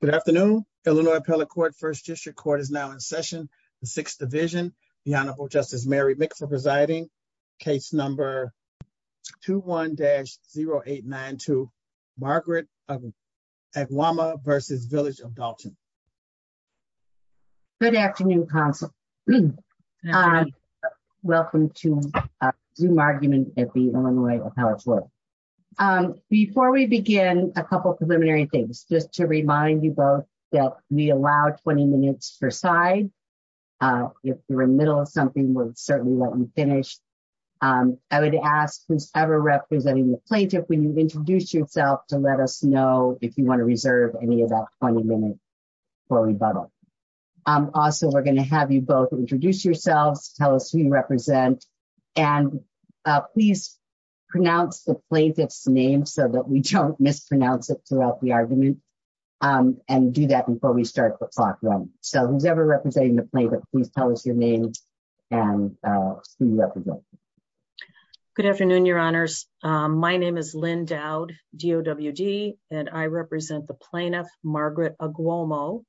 Good afternoon, Illinois Appellate Court First District Court is now in session, the Sixth Division, the Honorable Justice Mary Mick for presiding, case number 21-0892, Margaret of Agwomoh v. Village of Dalton. Good afternoon, counsel. Welcome to our Zoom argument at the Illinois Appellate Court. Before we begin, a couple preliminary things just to remind you both that we allow 20 minutes per side. If you're in the middle of something we'll certainly let you finish. I would ask who's ever representing the plaintiff when you introduce yourself to let us know if you want to reserve any of that 20 minutes for rebuttal. Also, we're going to have you both introduce yourselves, tell us who you represent, and please pronounce the plaintiff's name so that we don't mispronounce it throughout the argument and do that before we start the clock running. So who's ever representing the plaintiff, please tell us your name and who you represent. Good afternoon, Your Honors. My name is Lynn Dowd, DOWD, and I represent the plaintiff, Margaret Agwomoh,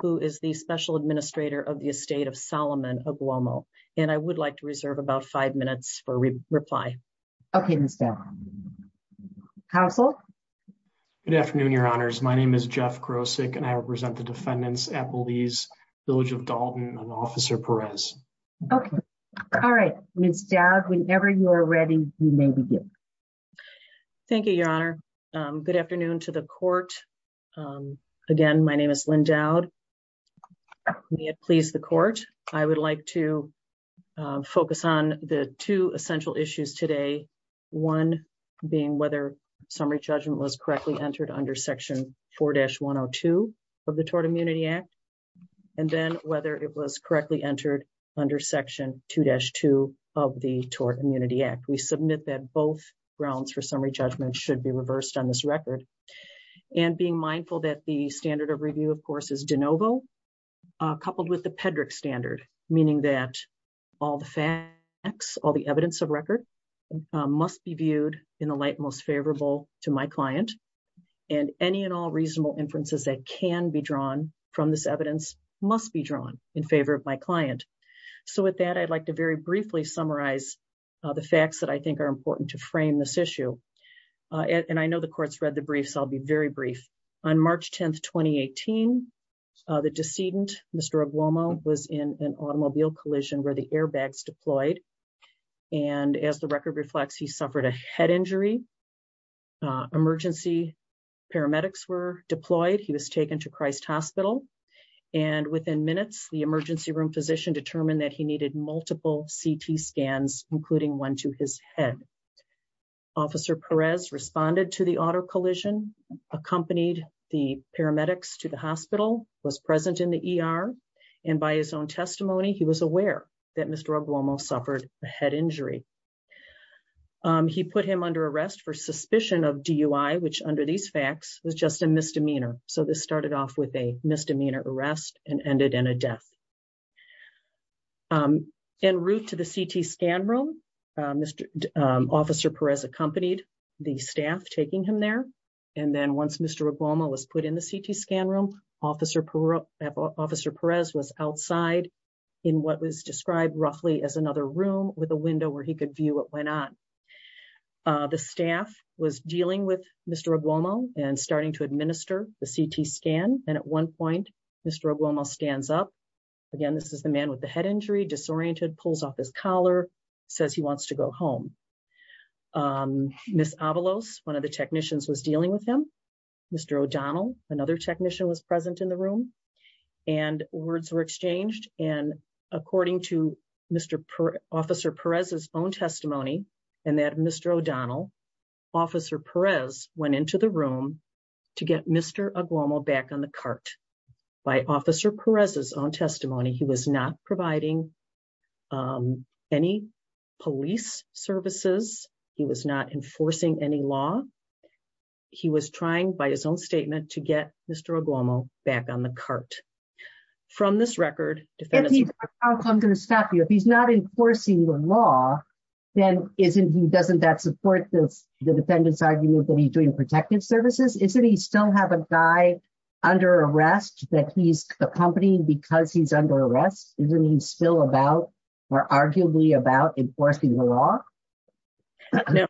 who is the Special Administrator of the Estate of Solomon Agwomoh, and I would like to reserve about five minutes for reply. Okay, Ms. Dowd. Counsel? Good afternoon, Your Honors. My name is Jeff Krosick and I represent the defendants, Appellees, Village of Dalton, and Officer Perez. Okay. All right. Ms. Dowd, whenever you're ready, you may begin. Thank you, Your Honor. Good afternoon to the court. Again, my name is Lynn Dowd. May it please the court. I would like to focus on the two essential issues today. One being whether summary judgment was correctly entered under Section 4-102 of the Tort Immunity Act, and then whether it was correctly entered under Section 2-2 of the Tort Immunity Act. We submit that both grounds for summary judgment should be reversed on this record. And being mindful that the standard of review, of course, is de novo, coupled with the Pedrick standard, meaning that all the facts, all the evidence of record must be viewed in the light most favorable to my client. And any and all reasonable inferences that can be drawn from this evidence must be drawn in favor of my client. So with that, I'd like to very briefly summarize the facts that I think are important to frame this issue. And I know the court's read the brief, so I'll be very brief. On March 10, 2018, the decedent, Mr. Oglomo, was in an automobile collision where the airbags deployed. And as the record reflects, he suffered a head injury. Emergency paramedics were deployed. He was taken to Christ Hospital. And within minutes, the emergency room physician determined that he needed multiple CT scans, including one to his head. Officer Perez responded to the auto collision, accompanied the paramedics to the hospital, was present in the ER. And by his own testimony, he was aware that Mr. Oglomo suffered a head injury. He put him under arrest for suspicion of DUI, which under these facts was just a misdemeanor. So this started off with a misdemeanor arrest and ended in a death. En route to the CT scan room, Mr. Officer Perez accompanied the staff taking him there. And then once Mr. Oglomo was put in the CT scan room, Officer Perez was outside in what was described roughly as another room with a window where he could view what went on. The staff was dealing with Mr. Oglomo and starting to administer the CT scan. And at one point, Mr. Oglomo stands up. Again, this is the man with the head injury, disoriented, pulls off his collar, says he wants to go home. Ms. Avalos, one of the technicians, was dealing with him. Mr. O'Donnell, another technician, was present in the room and words were exchanged. And according to Mr. Officer Perez's own testimony and that of Mr. O'Donnell, Officer Perez went into the room to get Mr. Oglomo back on the cart. By Officer Perez's own testimony, he was not providing any police services. He was not enforcing any law. He was trying, by his own statement, to get Mr. Oglomo back on the cart. From this record, defendants- I'm going to stop you. If he's not enforcing the law, then doesn't that support the defendants' argument that he's doing protective services? Isn't he still have a guy under arrest that he's accompanying because he's under arrest? Isn't he still about, or arguably about, enforcing the law? No.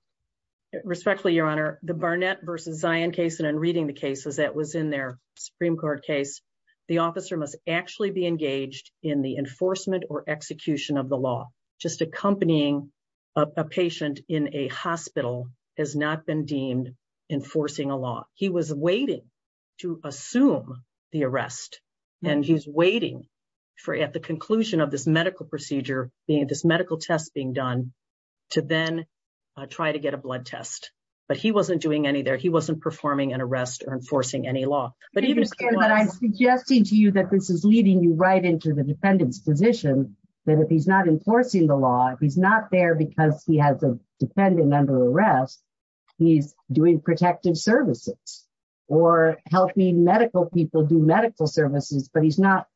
Respectfully, Your Honor, the Barnett v. Zion case, and I'm reading the cases that was in their Supreme Court case. The officer must actually be engaged in the enforcement or execution of the law. Just accompanying a patient in a hospital has not been deemed enforcing a law. He was waiting to assume the arrest. And he's waiting for, at the conclusion of this medical procedure, this medical test being done, to then try to get a blood test. But he wasn't doing any there. He wasn't performing an arrest or enforcing any law. But I'm suggesting to you that this is leading you right into the defendant's position, that if he's not enforcing the law, if he's not there because he has a defendant under arrest, he's doing protective services. Or helping medical people do medical services, but he's not-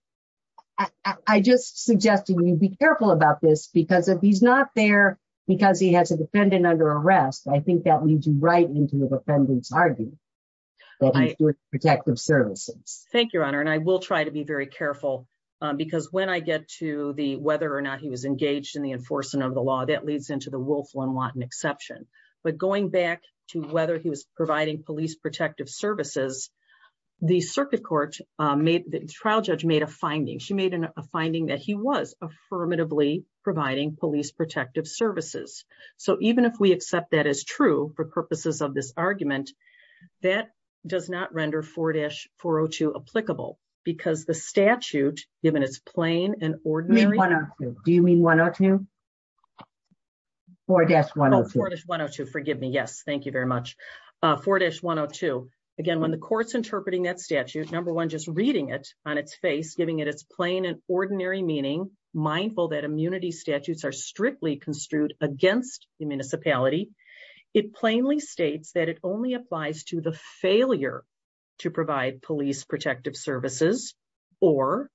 I'm just suggesting you be careful about this, because if he's not there because he has a defendant under arrest, I think that leads you right into the defendant's argument that he's doing protective services. Thank you, Your Honor. And I will try to be very careful, because when I get to the whether or not he was engaged in the enforcement of the law, that leads into the Wolff-Lonwatton exception. But going back to whether he was providing police protective services, the circuit court made- the trial judge made a finding. She made a finding that he was affirmatively providing police protective services. So even if we accept that as true for purposes of this argument, that does not render 4-402 applicable. Because the statute, given its plain and ordinary- You mean 102? Do you mean 102? 4-102. Oh, 4-102. Forgive me. Yes, thank you very much. 4-102. Again, when the court's interpreting that statute, number one, just reading it on its face, giving it its plain and ordinary meaning, mindful that immunity statutes are strictly construed against the municipality, it plainly states that it only applies to the failure to provide police protective services or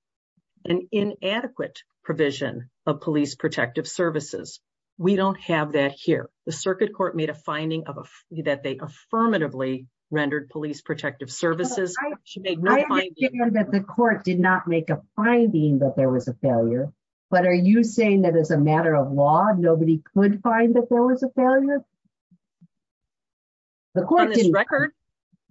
an inadequate provision of police protective services. We don't have that here. The circuit court made a finding that they affirmatively rendered police protective services. I understand that the court did not make a finding that there was a failure, but are you saying that as a matter of law, nobody could find that there was a failure?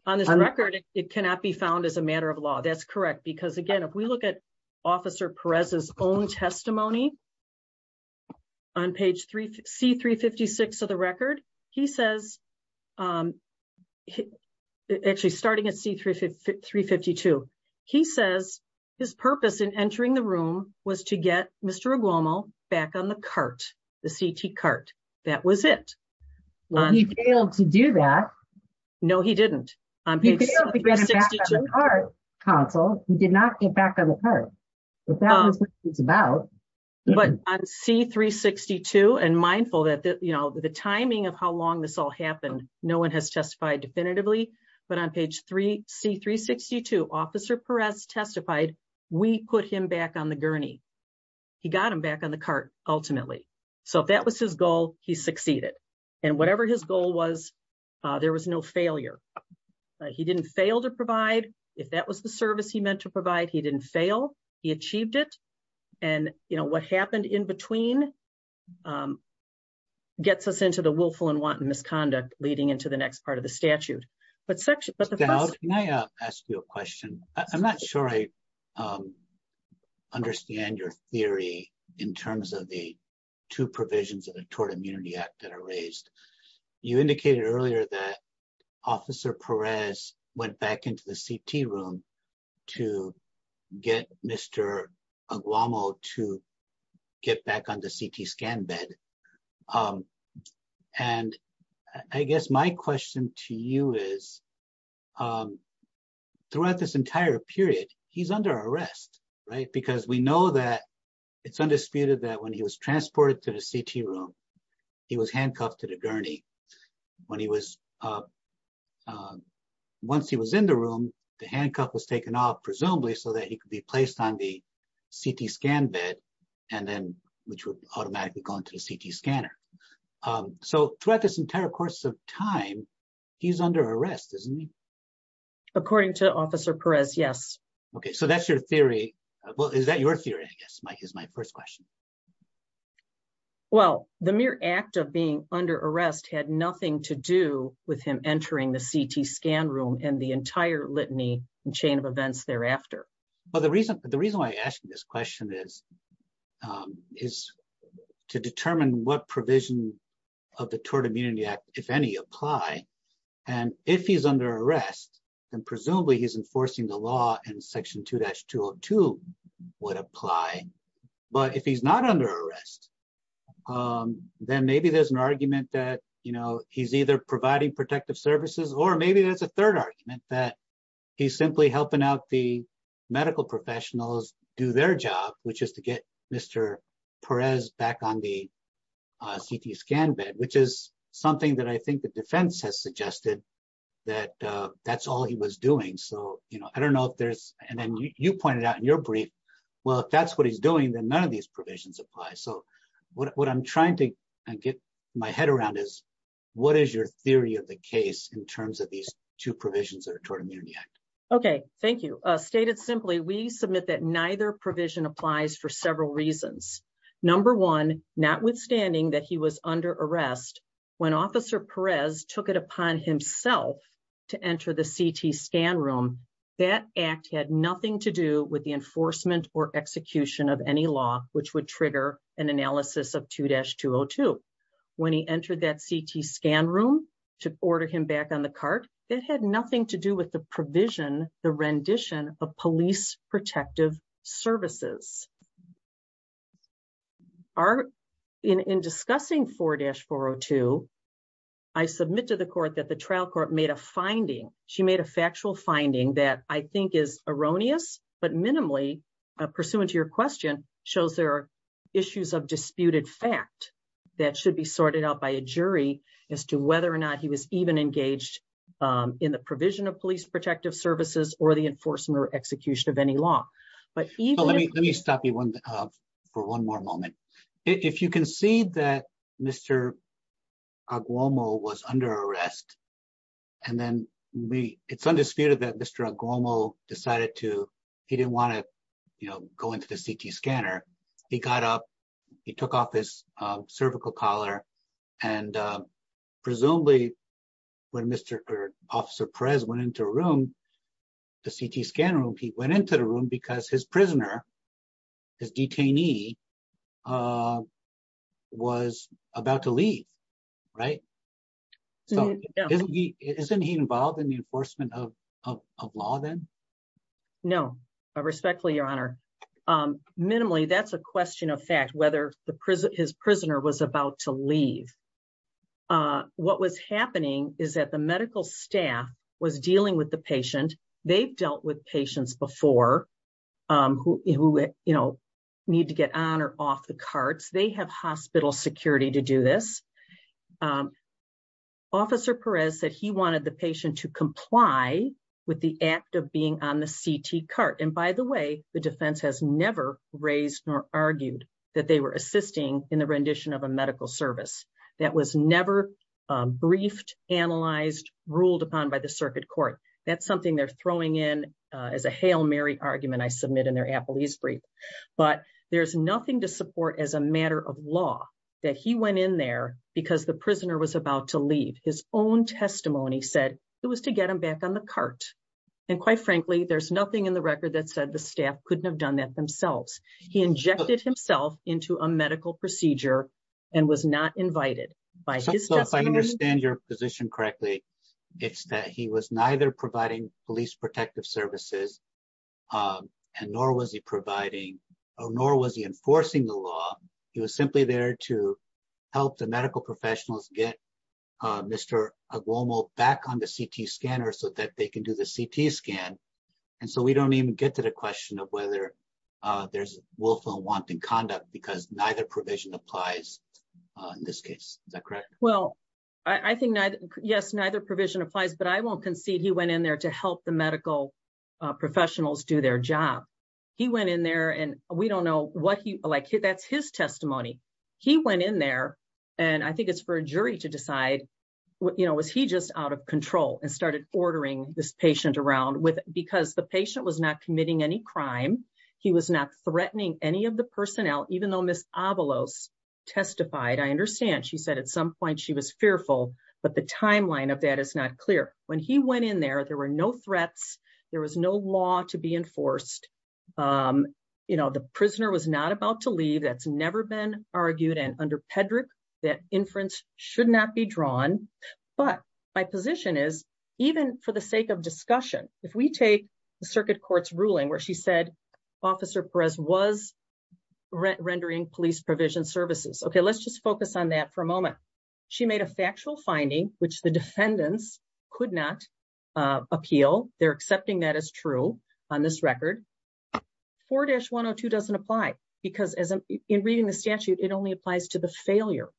On this record, it cannot be found as a matter of law. That's correct. Because again, if we look at Officer Perez's own testimony on page C-356 of the record, he says, actually starting at C-352, he says his purpose in entering the room was to get Mr. Aguomo back on the cart, the CT cart. That was it. Well, he failed to do that. No, he didn't. He failed to get him back on the cart, counsel. He did not get back on the cart. But that's what it's about. But on C-362, and mindful that the timing of how long this all happened, no one has testified definitively. But on page C-362, Officer Perez testified, we put him back on the gurney. He got him back on the cart, ultimately. So if that was his goal, he succeeded. And whatever his goal was, there was no failure. He didn't fail to provide. If that was the service he meant to provide, he didn't fail. He achieved it. And, you know, what happened in between gets us into the willful and wanton misconduct leading into the next part of the statute. But section — Can I ask you a question? I'm not sure I understand your theory in terms of the two provisions of the Tort Immunity Act that are raised. You indicated earlier that Officer Perez went back into the CT room to get Mr. Aguamo to get back on the CT scan bed. And I guess my question to you is, throughout this entire period, he's under arrest, right? Because we know that it's undisputed that when he was transported to the CT room, he was handcuffed to the gurney. Once he was in the room, the handcuff was taken off, presumably, so that he could be placed on the CT scan bed, which would automatically go into the CT scanner. So throughout this entire course of time, he's under arrest, isn't he? According to Officer Perez, yes. Okay, so that's your theory. Well, is that your theory, I guess, is my first question. Well, the mere act of being under arrest had nothing to do with him entering the CT scan room and the entire litany and chain of events thereafter. The reason why I ask you this question is to determine what provision of the Tort Immunity Act, if any, apply. And if he's under arrest, then presumably he's enforcing the law in Section 2-202 would apply. But if he's not under arrest, then maybe there's an argument that he's either providing protective services, or maybe there's a third argument that he's simply helping out the medical professionals do their job, which is to get Mr. Perez back on the CT scan bed, which is something that I think the defense has suggested that that's all he was doing. And then you pointed out in your brief, well, if that's what he's doing, then none of these provisions apply. So what I'm trying to get my head around is, what is your theory of the case in terms of these two provisions of the Tort Immunity Act? Okay, thank you. Stated simply, we submit that neither provision applies for several reasons. Number one, notwithstanding that he was under arrest, when Officer Perez took it upon himself to enter the CT scan room, that act had nothing to do with the enforcement or execution of any law, which would trigger an analysis of 2-202. When he entered that CT scan room to order him back on the cart, it had nothing to do with the provision, the rendition of police protective services. In discussing 4-402, I submit to the court that the trial court made a finding. She made a factual finding that I think is erroneous, but minimally, pursuant to your question, shows there are issues of disputed fact that should be sorted out by a jury as to whether or not he was even engaged in the provision of police protective services or the enforcement or execution of any law. Let me stop you for one more moment. If you can see that Mr. Aguomo was under arrest, and then it's undisputed that Mr. Aguomo decided to, he didn't want to go into the CT scanner. He got up, he took off his cervical collar, and presumably, when Mr. Officer Perez went into a room, the CT scan room, he went into the room because his prisoner, his detainee, was about to leave, right? So, isn't he involved in the enforcement of law then? No. I respectfully, Your Honor. Minimally, that's a question of fact, whether his prisoner was about to leave. What was happening is that the medical staff was dealing with the patient. They've dealt with patients before who, you know, need to get on or off the carts. They have hospital security to do this. Officer Perez said he wanted the patient to comply with the act of being on the CT cart. And by the way, the defense has never raised or argued that they were assisting in the rendition of a medical service. That was never briefed, analyzed, ruled upon by the circuit court. That's something they're throwing in as a Hail Mary argument, I submit, in their appellee's brief. But there's nothing to support as a matter of law that he went in there because the prisoner was about to leave. His own testimony said it was to get him back on the cart. And quite frankly, there's nothing in the record that said the staff couldn't have done that themselves. He injected himself into a medical procedure and was not invited. If I understand your position correctly, it's that he was neither providing police protective services, nor was he enforcing the law. He was simply there to help the medical professionals get Mr. Aguomo back on the CT scanner so that they can do the CT scan. And so we don't even get to the question of whether there's willful and wanton conduct because neither provision applies in this case. Is that correct? Well, I think, yes, neither provision applies. But I won't concede he went in there to help the medical professionals do their job. He went in there and we don't know what he like. That's his testimony. He went in there and I think it's for a jury to decide, you know, was he just out of control and started ordering this patient around because the patient was not committing any crime. He was not threatening any of the personnel, even though Miss Avalos testified. I understand. She said at some point she was fearful. But the timeline of that is not clear. When he went in there, there were no threats. There was no law to be enforced. You know, the prisoner was not about to leave. That's never been argued. And under Pedrick, that inference should not be drawn. But my position is, even for the sake of discussion, if we take the circuit court's ruling where she said Officer Perez was rendering police provision services. Okay, let's just focus on that for a moment. She made a factual finding, which the defendants could not appeal. They're accepting that as true on this record. 4-102 doesn't apply, because in reading the statute, it only applies to the failure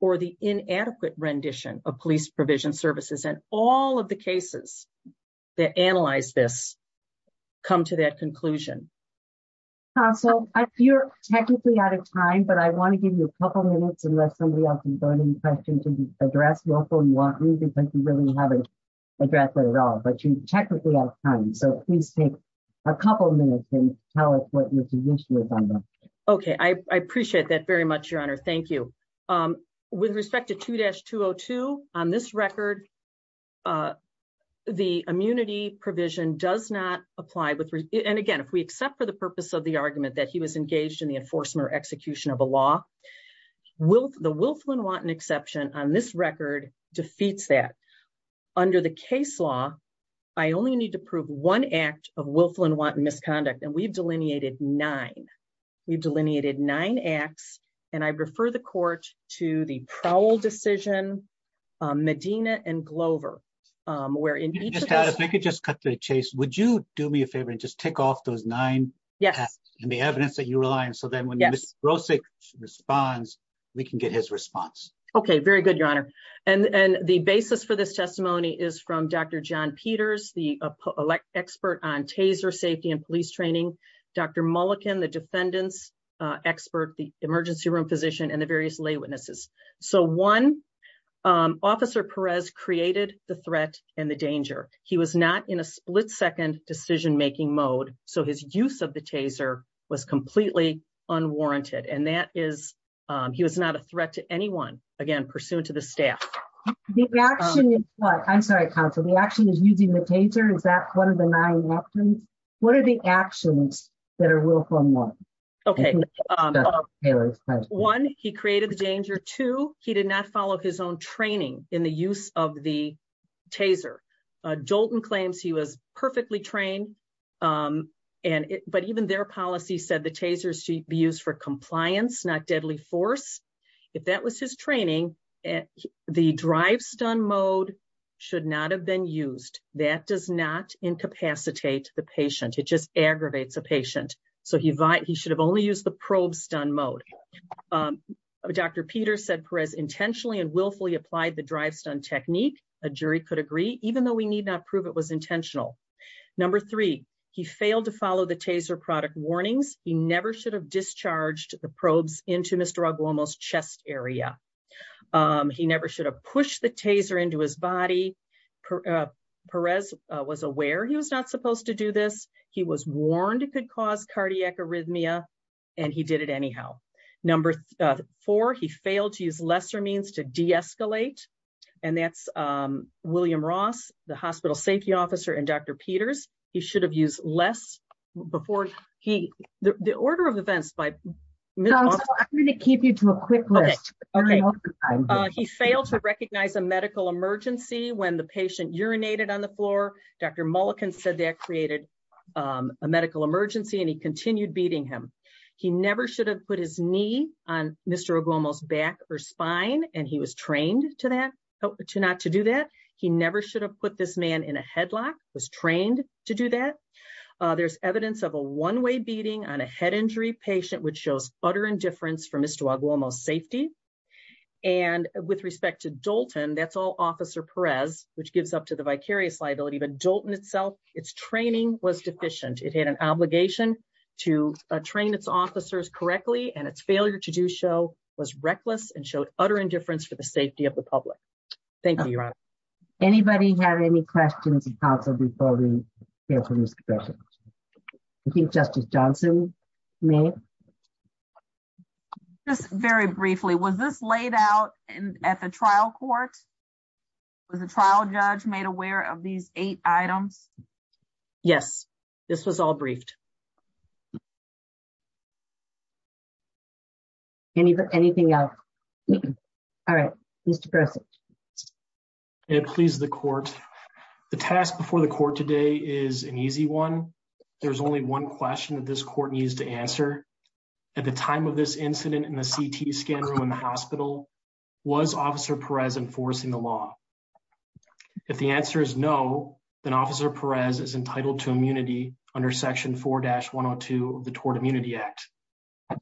or the inadequate rendition of police provision services. And all of the cases that analyze this come to that conclusion. Counsel, you're technically out of time, but I want to give you a couple minutes, unless somebody else has any questions to address. You're welcome. You want me, because you really haven't addressed that at all. But you're technically out of time. So please take a couple minutes and tell us what your position is on that. Okay, I appreciate that very much, Your Honor. Thank you. With respect to 2-202, on this record, the immunity provision does not apply. And again, if we accept for the purpose of the argument that he was engaged in the enforcement or execution of a law, the Wilflin-Wanton exception on this record defeats that. Under the case law, I only need to prove one act of Wilflin-Wanton misconduct, and we've delineated nine. We've delineated nine acts, and I refer the court to the Prowell decision, Medina, and Glover. If I could just cut to the chase, would you do me a favor and just tick off those nine? Yes. And the evidence that you rely on, so that when Mr. Brosek responds, we can get his response. Okay, very good, Your Honor. And the basis for this testimony is from Dr. John Peters, the expert on taser safety and police training, Dr. Mulliken, the defendant's expert, the emergency room physician, and the various lay witnesses. So one, Officer Perez created the threat and the danger. He was not in a split-second decision-making mode, so his use of the taser was completely unwarranted. And that is, he was not a threat to anyone. Again, pursuant to the staff. The action is what? I'm sorry, counsel. The action is using the taser? Is that one of the nine actions? What are the actions that are Wilflin-Wanton? Okay. One, he created the danger. Two, he did not follow his own training in the use of the taser. Jolton claims he was perfectly trained, but even their policy said the taser should be used for compliance, not deadly force. If that was his training, the drive-stun mode should not have been used. That does not incapacitate the patient. It just aggravates a patient. So he should have only used the probe-stun mode. Dr. Peter said Perez intentionally and willfully applied the drive-stun technique. A jury could agree, even though we need not prove it was intentional. Number three, he failed to follow the taser product warnings. He never should have discharged the probes into Mr. Aguamo's chest area. He never should have pushed the taser into his body. Perez was aware he was not supposed to do this. He was warned it could cause cardiac arrhythmia, and he did it anyhow. Number four, he failed to use lesser means to de-escalate. And that's William Ross, the hospital safety officer, and Dr. Peters. He should have used less before he – the order of events by – Counsel, I'm going to keep you to a quick list. He failed to recognize a medical emergency when the patient urinated on the floor. Dr. Mulliken said that created a medical emergency, and he continued beating him. He never should have put his knee on Mr. Aguamo's back or spine, and he was trained to not to do that. He never should have put this man in a headlock, was trained to do that. There's evidence of a one-way beating on a head injury patient, which shows utter indifference for Mr. Aguamo's safety. And with respect to Dolton, that's all Officer Perez, which gives up to the vicarious liability. But Dolton itself, its training was deficient. It had an obligation to train its officers correctly, and its failure to do so was reckless and showed utter indifference for the safety of the public. Thank you, Your Honor. Anybody have any questions of Counsel before we hear from Ms. Cabeca? I think Justice Johnson may. Just very briefly, was this laid out at the trial court? Was the trial judge made aware of these eight items? Yes, this was all briefed. Anything else? All right, Mr. Peres. It pleases the court. The task before the court today is an easy one. There's only one question that this court needs to answer. At the time of this incident in the CT scan room in the hospital, was Officer Perez enforcing the law? If the answer is no, then Officer Perez is entitled to immunity under Section 4-102 of the Tort Immunity Act.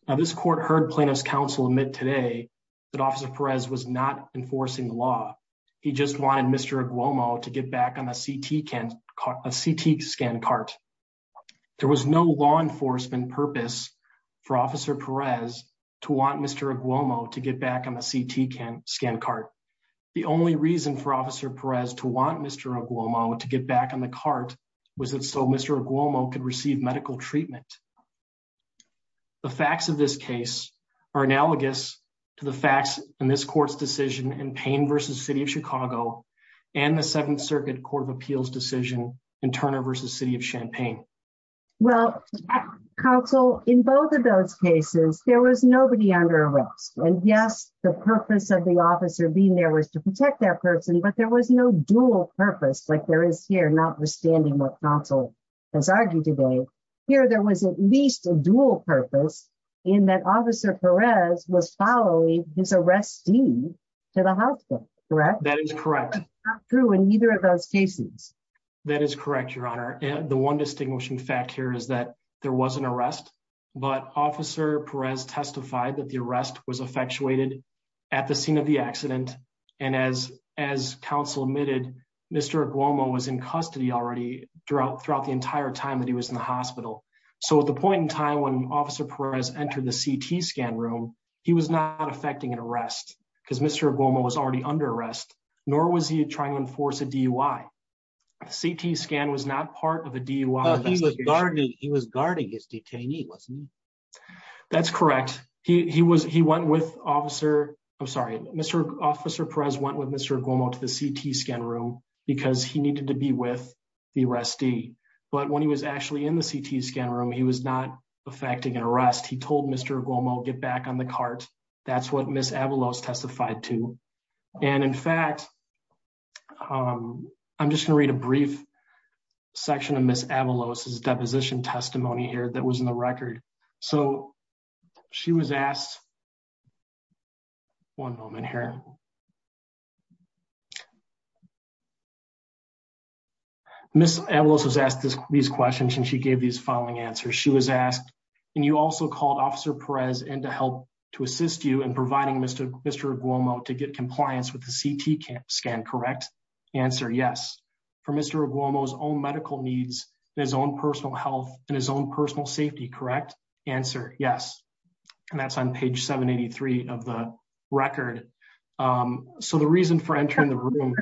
Now, this court heard Plaintiff's Counsel admit today that Officer Perez was not enforcing the law. He just wanted Mr. Aguomo to get back on the CT scan cart. There was no law enforcement purpose for Officer Perez to want Mr. Aguomo to get back on the CT scan cart. The only reason for Officer Perez to want Mr. Aguomo to get back on the cart was so Mr. Aguomo could receive medical treatment. The facts of this case are analogous to the facts in this court's decision in Payne v. City of Chicago and the Seventh Circuit Court of Appeals decision in Turner v. City of Champaign. Well, Counsel, in both of those cases, there was nobody under arrest. And yes, the purpose of the officer being there was to protect that person, but there was no dual purpose like there is here, notwithstanding what Counsel has argued today. Here, there was at least a dual purpose in that Officer Perez was following his arrestee to the hospital, correct? That is correct. Not true in either of those cases. That is correct, Your Honor. The one distinguishing fact here is that there was an arrest, but Officer Perez testified that the arrest was effectuated at the scene of the accident. And as Counsel admitted, Mr. Aguomo was in custody already throughout the entire time that he was in the hospital. So at the point in time when Officer Perez entered the CT scan room, he was not affecting an arrest because Mr. Aguomo was already under arrest, nor was he trying to enforce a DUI. The CT scan was not part of a DUI investigation. He was guarding his detainee, wasn't he? That's correct. He went with Officer Perez went with Mr. Aguomo to the CT scan room because he needed to be with the arrestee. But when he was actually in the CT scan room, he was not affecting an arrest. He told Mr. Aguomo, get back on the cart. That's what Ms. Avalos testified to. And in fact, I'm just going to read a brief section of Ms. Avalos' deposition testimony here that was in the record. So she was asked, one moment here. Ms. Avalos was asked these questions and she gave these following answers. She was asked, and you also called Officer Perez in to help to assist you in providing Mr. Aguomo to get compliance with the CT scan, correct? Answer, yes. For Mr. Aguomo's own medical needs and his own personal health and his own personal safety, correct? Answer, yes. And that's on page 783 of the record. So the reason for entering the room.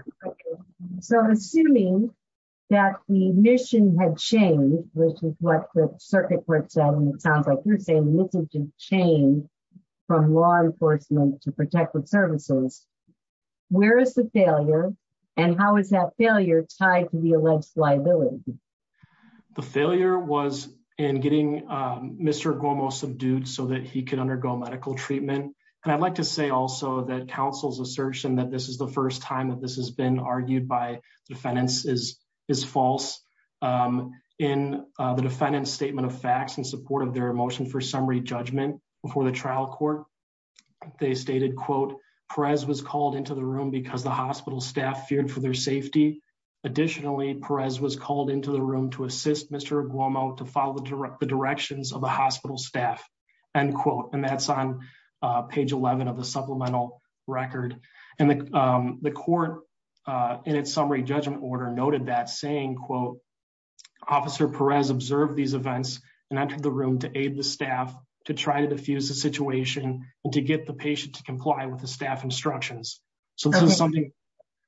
So assuming that the mission had changed, which is what the circuit court said, and it sounds like you're saying the mission changed from law enforcement to protective services. Where is the failure? And how is that failure tied to the alleged liability? The failure was in getting Mr. Aguomo subdued so that he could undergo medical treatment. And I'd like to say also that counsel's assertion that this is the first time that this has been argued by defendants is false. In the defendant's statement of facts in support of their motion for summary judgment before the trial court, they stated, quote, Perez was called into the room because the hospital staff feared for their safety. Additionally, Perez was called into the room to assist Mr. Aguomo to follow the directions of the hospital staff, end quote. And that's on page 11 of the supplemental record. And the court in its summary judgment order noted that, saying, quote, Officer Perez observed these events and entered the room to aid the staff to try to diffuse the situation and to get the patient to comply with the staff instructions. So this is something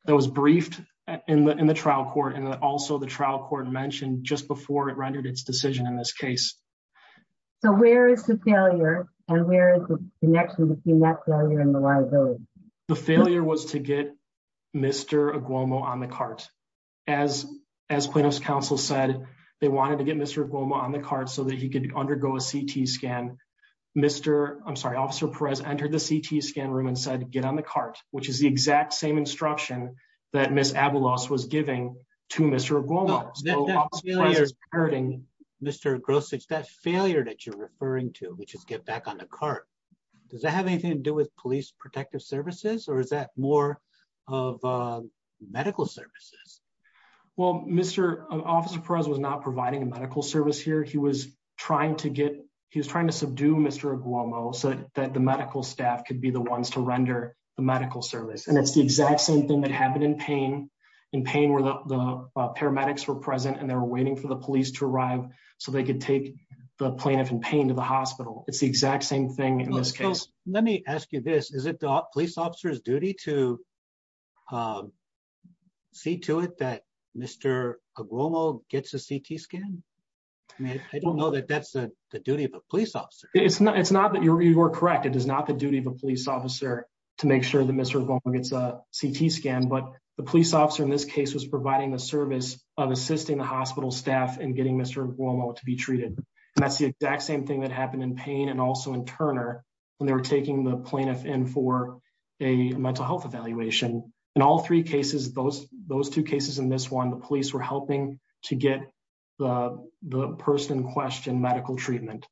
that was briefed in the trial court and also the trial court mentioned just before it rendered its decision in this case. So where is the failure and where is the connection between that failure and the liability? The failure was to get Mr. Aguomo on the cart. As Plano's counsel said, they wanted to get Mr. Aguomo on the cart so that he could undergo a CT scan. Mr. I'm sorry, Officer Perez entered the CT scan room and said, get on the cart, which is the exact same instruction that Miss Avalos was giving to Mr. Aguomo. Mr. Grossage, that failure that you're referring to, which is get back on the cart, does that have anything to do with police protective services or is that more of medical services? Well, Mr. Officer Perez was not providing a medical service here. He was trying to get, he was trying to subdue Mr. Aguomo so that the medical staff could be the ones to render the medical service. And it's the exact same thing that happened in Payne, in Payne where the paramedics were present and they were waiting for the police to arrive so they could take the plaintiff in Payne to the hospital. It's the exact same thing in this case. Let me ask you this. Is it the police officer's duty to see to it that Mr. Aguomo gets a CT scan? I mean, I don't know that that's the duty of a police officer. It's not that you're correct. It is not the duty of a police officer to make sure that Mr. Aguomo gets a CT scan. But the police officer in this case was providing the service of assisting the hospital staff and getting Mr. Aguomo to be treated. And that's the exact same thing that happened in Payne and also in Turner when they were taking the plaintiff in for a mental health evaluation. In all three cases, those two cases and this one, the police were helping to get the person in question medical treatment.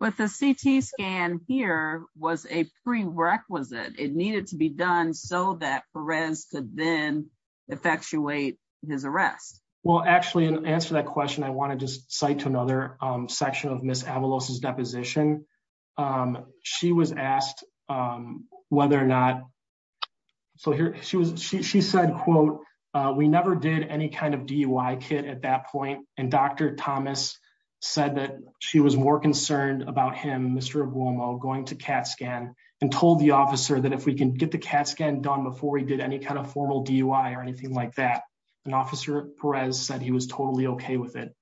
But the CT scan here was a prerequisite. It needed to be done so that Perez could then effectuate his arrest. Well, actually, in answer to that question, I want to just cite to another section of Miss Avalos' deposition. She was asked whether or not. So here she was. She said, quote, We never did any kind of DUI kit at that point. And Dr. Thomas said that she was more concerned about him, Mr. Aguomo, going to CAT scan and told the officer that if we can get the CAT scan done before we did any kind of formal DUI or anything like that. And Officer Perez said he was totally OK with it.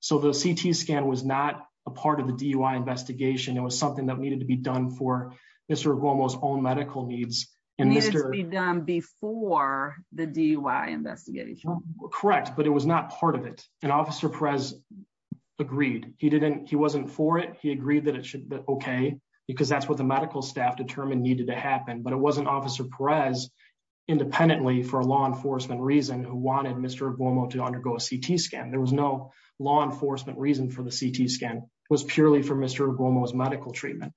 So the CT scan was not a part of the DUI investigation. It was something that needed to be done for Mr. Aguomo's own medical needs and needed to be done before the DUI investigation. Correct. But it was not part of it. And Officer Perez agreed he didn't he wasn't for it. He agreed that it should be OK because that's what the medical staff determined needed to happen. But it wasn't Officer Perez independently for a law enforcement reason who wanted Mr. Aguomo to undergo a CT scan. There was no law enforcement reason for the CT scan was purely for Mr. Aguomo's medical treatment.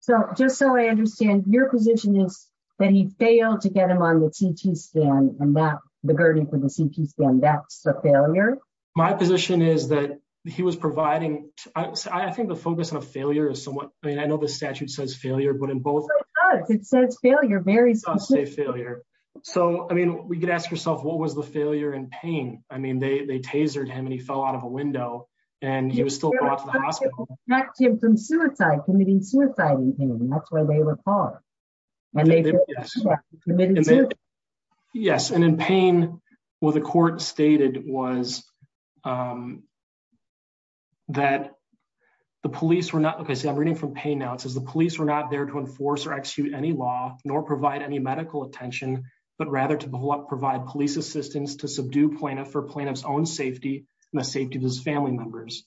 So just so I understand your position is that he failed to get him on the CT scan and that the gurney for the CT scan, that's a failure. My position is that he was providing. I think the focus on a failure is somewhat. I mean, I know the statute says failure, but in both. It says failure, very specific. It does say failure. So, I mean, we could ask yourself, what was the failure and pain? I mean, they tasered him and he fell out of a window and he was still brought to the hospital. He was subject to suicide, committing suicide. And that's where they were caught. Yes. Yes. And in pain, well, the court stated was that the police were not because I'm reading from pain now. It says the police were not there to enforce or execute any law nor provide any medical attention, but rather to provide police assistance to subdue plaintiff for plaintiff's own safety and the safety of his family members.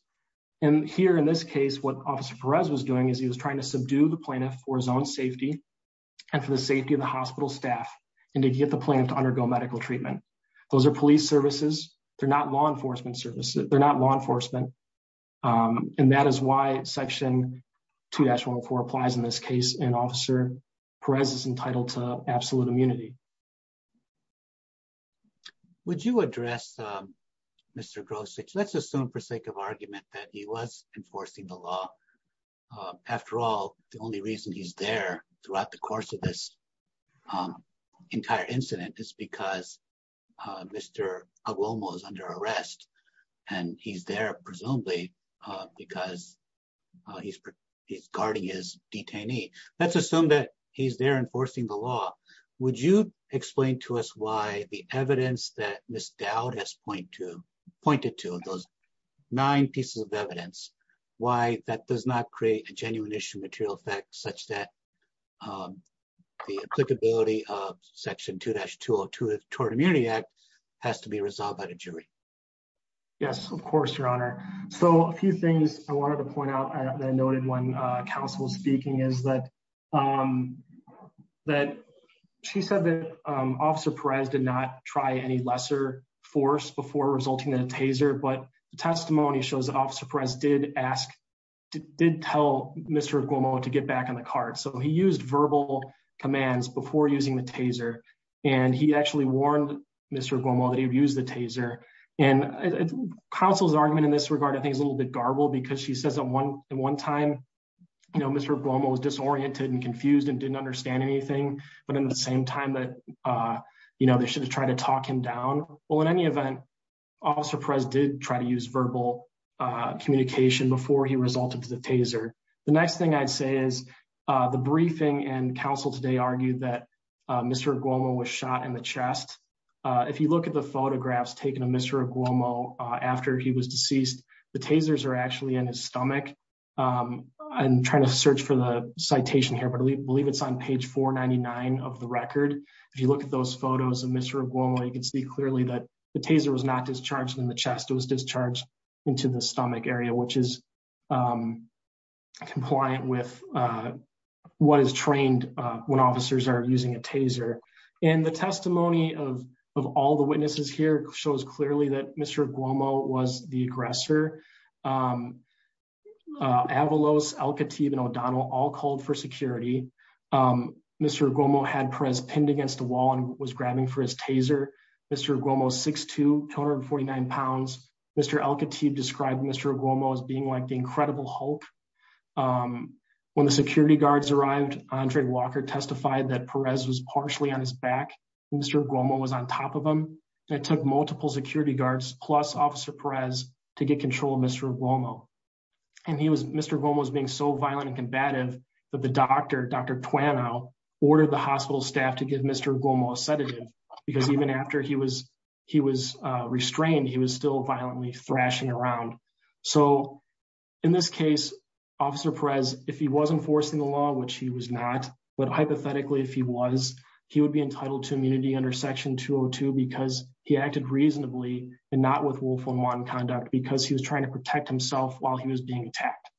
And here in this case, what Officer Perez was doing is he was trying to subdue the plaintiff for his own safety and for the safety of the hospital staff and to get the plan to undergo medical treatment. Those are police services. They're not law enforcement services. They're not law enforcement. And that is why Section 2-104 applies in this case and Officer Perez is entitled to absolute immunity. Would you address Mr. Grosich? Let's assume for sake of argument that he was enforcing the law. After all, the only reason he's there throughout the course of this entire incident is because Mr. Aguomo is under arrest and he's there presumably because he's guarding his detainee. Let's assume that he's there enforcing the law. Would you explain to us why the evidence that Ms. Dowd has pointed to, those nine pieces of evidence, why that does not create a genuine issue material effect such that the applicability of Section 2-202 of the Tort Immunity Act has to be resolved by the jury? Yes, of course, Your Honor. So a few things I wanted to point out that I noted when counsel was speaking is that she said that Officer Perez did not try any lesser force before resulting in a taser, but testimony shows that Officer Perez did ask, did tell Mr. Aguomo to get back on the cart. So he used verbal commands before using the taser, and he actually warned Mr. Aguomo that he would use the taser. And counsel's argument in this regard, I think, is a little bit garbled because she says that in one time, Mr. Aguomo was disoriented and confused and didn't understand anything. But in the same time that, you know, they should have tried to talk him down. Well, in any event, Officer Perez did try to use verbal communication before he resulted to the taser. The next thing I'd say is the briefing and counsel today argued that Mr. Aguomo was shot in the chest. If you look at the photographs taken of Mr. Aguomo after he was deceased, the tasers are actually in his stomach. I'm trying to search for the citation here, but I believe it's on page 499 of the record. If you look at those photos of Mr. Aguomo, you can see clearly that the taser was not discharged in the chest, it was discharged into the stomach area, which is compliant with what is trained when officers are using a taser. And the testimony of all the witnesses here shows clearly that Mr. Aguomo was the aggressor. Avalos, Al-Khatib, and O'Donnell all called for security. Mr. Aguomo had Perez pinned against the wall and was grabbing for his taser. Mr. Aguomo's 6'2", 249 pounds. Mr. Al-Khatib described Mr. Aguomo as being like the Incredible Hulk. When the security guards arrived, Andre Walker testified that Perez was partially on his back and Mr. Aguomo was on top of him. It took multiple security guards plus Officer Perez to get control of Mr. Aguomo. And Mr. Aguomo was being so violent and combative that the doctor, Dr. Twano, ordered the hospital staff to give Mr. Aguomo a sedative because even after he was restrained, he was still violently thrashing around. So, in this case, Officer Perez, if he was enforcing the law, which he was not, but hypothetically if he was, he would be entitled to immunity under Section 202 because he acted reasonably and not with willful and wanton conduct because he was trying to protect himself while he was being attacked.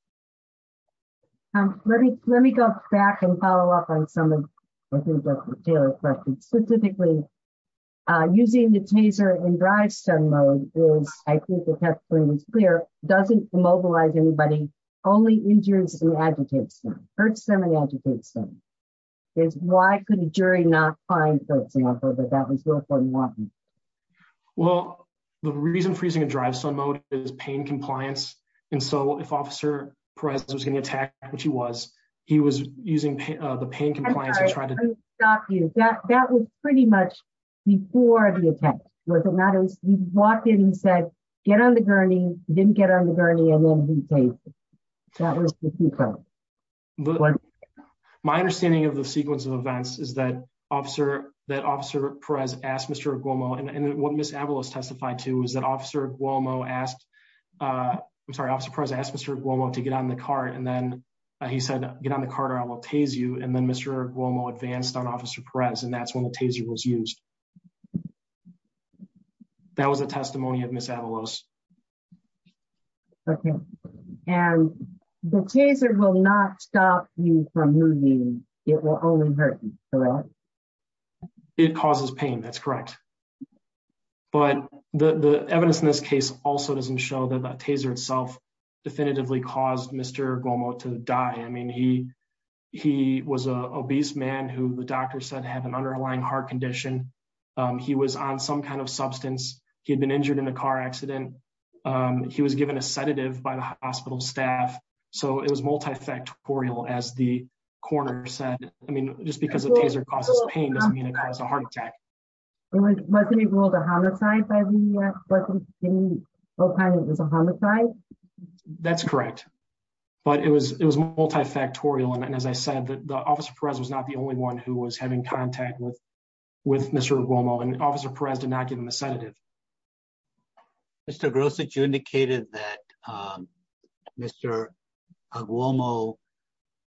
Let me go back and follow up on some of Taylor's questions. Specifically, using the taser in drivestone mode is, I think the testimony was clear, doesn't immobilize anybody, only injures them and agitates them. Hurts them and agitates them. Why could a jury not find folks like that was willful and wanton? Well, the reason for using a drivestone mode is pain compliance. And so, if Officer Perez was getting attacked, which he was, he was using the pain compliance to try to- I'm sorry, let me stop you. That was pretty much before the attack, was it not? He walked in and said, get on the gurney, didn't get on the gurney, and then he tasered. That was the key point. My understanding of the sequence of events is that Officer Perez asked Mr. Aguomo, and what Ms. Avalos testified to is that Officer Aguomo asked, I'm sorry, Officer Perez asked Mr. Aguomo to get on the cart and then he said, get on the cart or I will tase you. And then Mr. Aguomo advanced on Officer Perez and that's when the taser was used. That was a testimony of Ms. Avalos. Okay. And the taser will not stop you from moving. It will only hurt you, correct? It causes pain, that's correct. But the evidence in this case also doesn't show that the taser itself definitively caused Mr. Aguomo to die. I mean, he was a obese man who the doctor said had an underlying heart condition. He was on some kind of substance. He had been injured in a car accident. He was given a sedative by the hospital staff. So it was multifactorial, as the coroner said. I mean, just because a taser causes pain doesn't mean it caused a heart attack. Wasn't he ruled a homicide by the U.S.? Wasn't he ruled a homicide? That's correct. But it was multifactorial. And as I said, Officer Perez was not the only one who was having contact with Mr. Aguomo and Officer Perez did not give him a sedative. Mr. Grosich, you indicated that Mr. Aguomo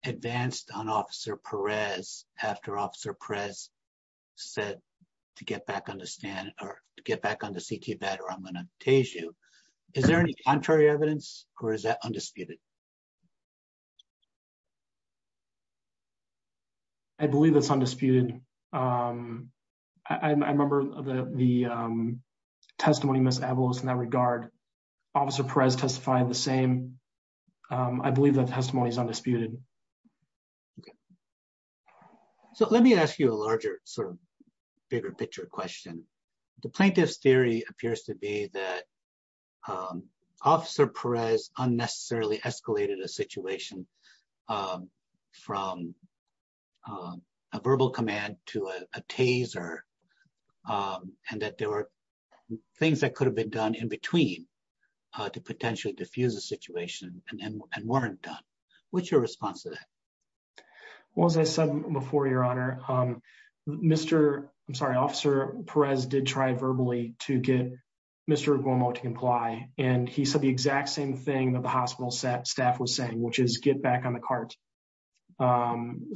advanced on Officer Perez after Officer Perez said to get back on the CT bed or I'm going to tase you. Is there any contrary evidence or is that undisputed? I believe it's undisputed. I remember the testimony of Ms. Avalos in that regard. Officer Perez testified the same. I believe that testimony is undisputed. So let me ask you a larger sort of bigger picture question. The plaintiff's theory appears to be that Officer Perez unnecessarily escalated a situation from a verbal command to a taser and that there were things that could have been done in between to potentially diffuse the situation and weren't done. What's your response to that? Well, as I said before, Your Honor, Mr. I'm sorry, Officer Perez did try verbally to get Mr. Aguomo to comply. And he said the exact same thing that the hospital staff was saying, which is get back on the cart.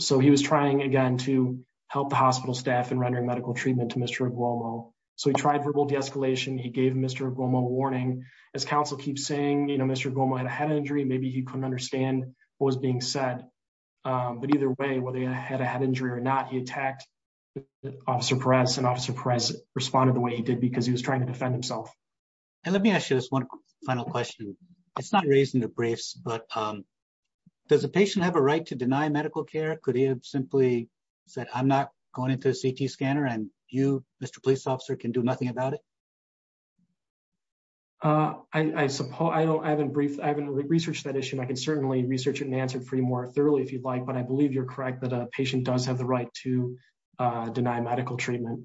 So he was trying, again, to help the hospital staff in rendering medical treatment to Mr. Aguomo. So he tried verbal de-escalation. He gave Mr. Aguomo a warning. As counsel keeps saying, you know, Mr. Aguomo had a head injury. Maybe he couldn't understand what was being said. But either way, whether he had a head injury or not, he attacked Officer Perez and Officer Perez responded the way he did because he was trying to defend himself. And let me ask you this one final question. It's not raised in the briefs, but does a patient have a right to deny medical care? Could he have simply said, I'm not going into a CT scanner and you, Mr. Police Officer, can do nothing about it? I suppose I haven't researched that issue and I can certainly research it and answer it for you more thoroughly if you'd like. But I believe you're correct that a patient does have the right to deny medical treatment,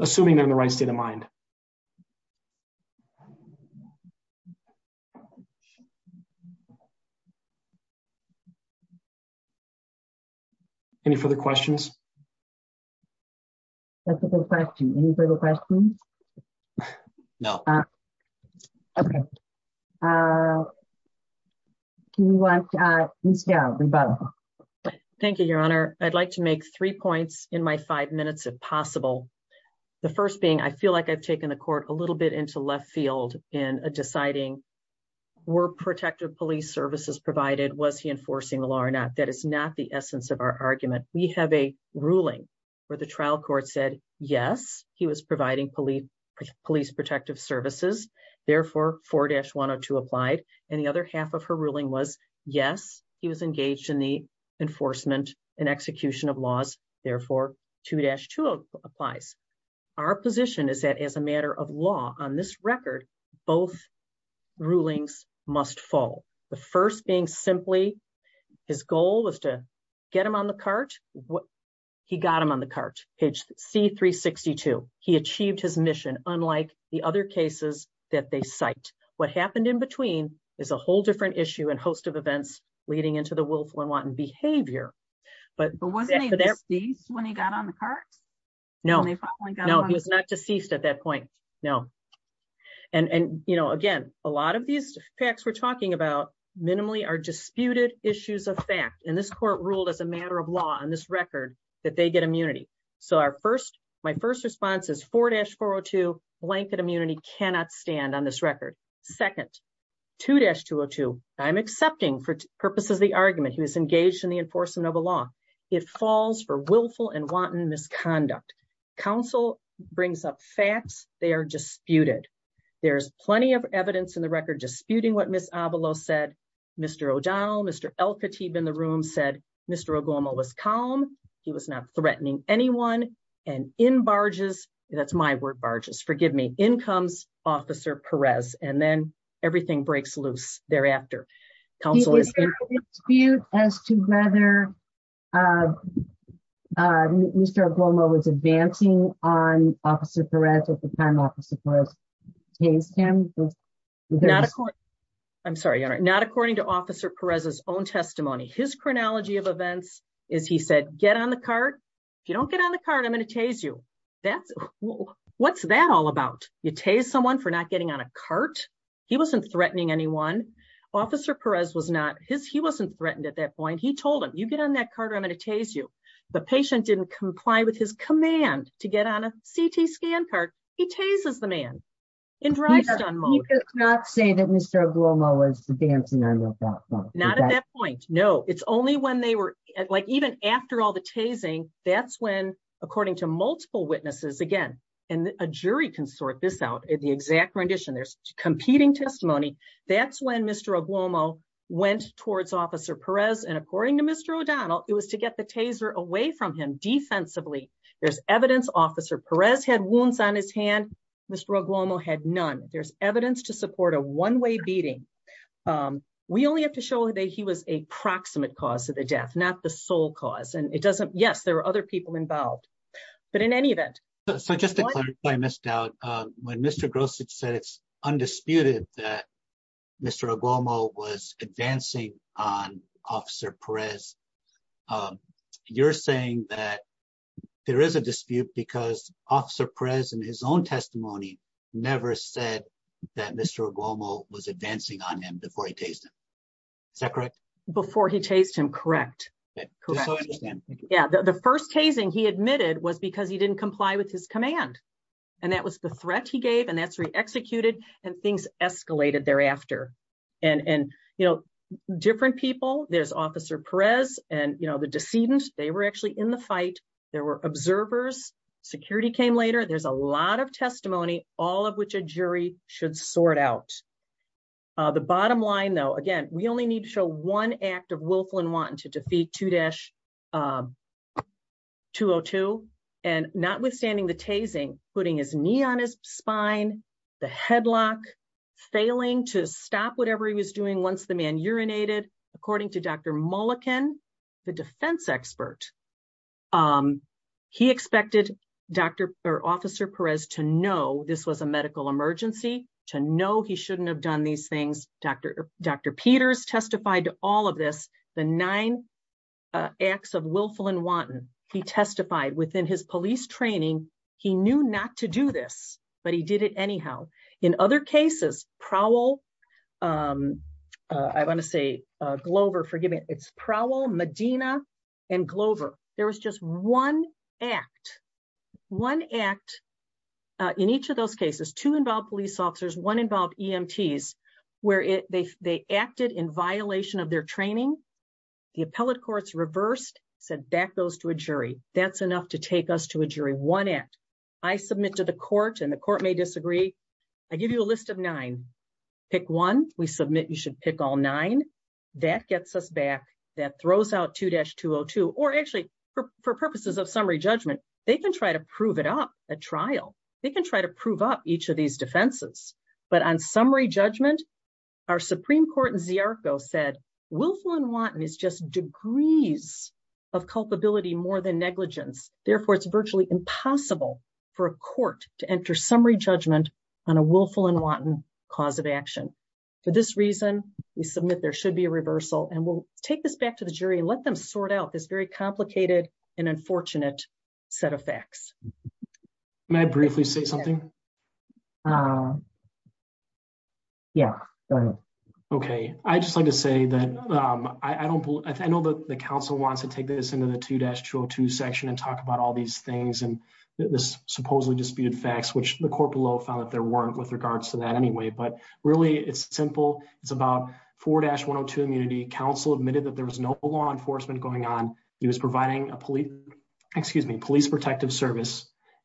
assuming they're in the right state of mind. Any further questions? That's a good question. Any further questions? No. Okay. Can we watch Ms. Gow, Rebecca? Thank you, Your Honor. I'd like to make three points in my five minutes, if possible. The first being, I feel like I've taken the court a little bit into left field in deciding were protective police services provided, was he enforcing the law or not? That is not the essence of our argument. We have a ruling where the trial court said, yes, he was providing police protective services. Therefore, 4-102 applied. And the other half of her ruling was, yes, he was engaged in the enforcement and execution of laws. Therefore, 2-202 applies. Our position is that as a matter of law on this record, both rulings must fall. The first being simply his goal was to get him on the cart. He got him on the cart. Page C-362. He achieved his mission, unlike the other cases that they cite. What happened in between is a whole different issue and host of events leading into the willful and wanton behavior. But wasn't he deceased when he got on the cart? No, he was not deceased at that point. No. And, you know, again, a lot of these facts we're talking about minimally are disputed issues of fact. And this court ruled as a matter of law on this record that they get immunity. So, my first response is 4-402, blanket immunity cannot stand on this record. Second, 2-202, I'm accepting for purposes of the argument, he was engaged in the enforcement of a law. It falls for willful and wanton misconduct. Counsel brings up facts, they are disputed. There's plenty of evidence in the record disputing what Ms. Avalos said, Mr. O'Donnell, Mr. El-Khatib in the room said Mr. O'Glomo was calm. He was not threatening anyone and in barges, that's my word, barges, forgive me, in comes Officer Perez and then everything breaks loose thereafter. Is there a dispute as to whether Mr. O'Glomo was advancing on Officer Perez at the time Officer Perez tased him? Not according to Officer Perez's own testimony. His chronology of events is he said, get on the cart. If you don't get on the cart, I'm going to tase you. What's that all about? You tase someone for not getting on a cart? He wasn't threatening anyone. Officer Perez was not, he wasn't threatened at that point. He told him, you get on that cart or I'm going to tase you. The patient didn't comply with his command to get on a CT scan cart. He tases the man. He did not say that Mr. O'Glomo was advancing on that cart. Not at that point. No, it's only when they were like, even after all the tasing, that's when, according to multiple witnesses again, and a jury can sort this out at the exact rendition, there's competing testimony. That's when Mr. O'Glomo went towards Officer Perez and according to Mr. O'Donnell, it was to get the taser away from him defensively. There's evidence Officer Perez had wounds on his hand. Mr. O'Glomo had none. There's evidence to support a one-way beating. We only have to show that he was a proximate cause of the death, not the sole cause. And it doesn't, yes, there are other people involved, but in any event. So just to clarify, Ms. Dowd, when Mr. Grosich said it's undisputed that Mr. O'Glomo was advancing on Officer Perez, you're saying that there is a dispute because Officer Perez, in his own testimony, never said that Mr. O'Glomo was advancing on him before he tased him. Is that correct? Before he tased him, correct. Yeah, the first tasing he admitted was because he didn't comply with his command. And that was the threat he gave and that's re-executed and things escalated thereafter. And, you know, different people, there's Officer Perez and, you know, the decedent, they were actually in the fight. There were observers. Security came later. There's a lot of testimony, all of which a jury should sort out. The bottom line, though, again, we only need to show one act of willful and wanton to defeat 2-202. And notwithstanding the tasing, putting his knee on his spine, the headlock, failing to stop whatever he was doing once the man urinated, according to Dr. Mulliken, the defense expert, he expected Officer Perez to know this was a medical emergency, to know he shouldn't have done these things. Dr. Peters testified to all of this. The nine acts of willful and wanton, he testified within his police training. He knew not to do this, but he did it anyhow. In other cases, Prowell, I want to say Glover, forgive me, it's Prowell, Medina, and Glover. There was just one act, one act in each of those cases, two involved police officers, one involved EMTs, where they acted in violation of their training. The appellate courts reversed, said back those to a jury. That's enough to take us to a jury, one act. I submit to the court, and the court may disagree. I give you a list of nine. Pick one. We submit you should pick all nine. That gets us back. That throws out 2-202. Or actually, for purposes of summary judgment, they can try to prove it up at trial. They can try to prove up each of these defenses. But on summary judgment, our Supreme Court in Ziarko said willful and wanton is just degrees of culpability more than negligence. Therefore, it's virtually impossible for a court to enter summary judgment on a willful and wanton cause of action. For this reason, we submit there should be a reversal, and we'll take this back to the jury and let them sort out this very complicated and unfortunate set of facts. Can I briefly say something? Yeah, go ahead.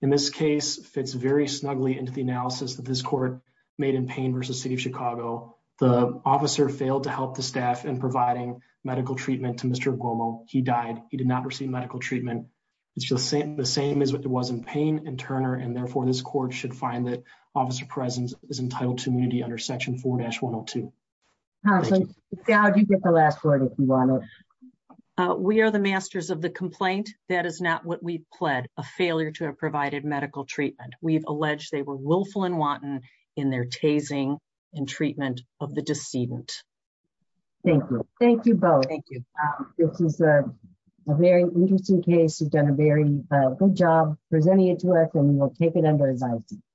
In this case, fits very snugly into the analysis that this court made in Payne v. City of Chicago. The officer failed to help the staff in providing medical treatment to Mr. Guomo. He died. He did not receive medical treatment. It's the same as what there was in Payne and Turner, and therefore, this court should find that officer presence is entitled to immunity under Section 4-102. Dowd, you get the last word if you want to. We are the masters of the complaint. That is not what we pled, a failure to have provided medical treatment. We've alleged they were willful and wanton in their tasing and treatment of the decedent. Thank you. Thank you both. Thank you. This is a very interesting case. You've done a very good job presenting it to us, and we'll take it under as I see it.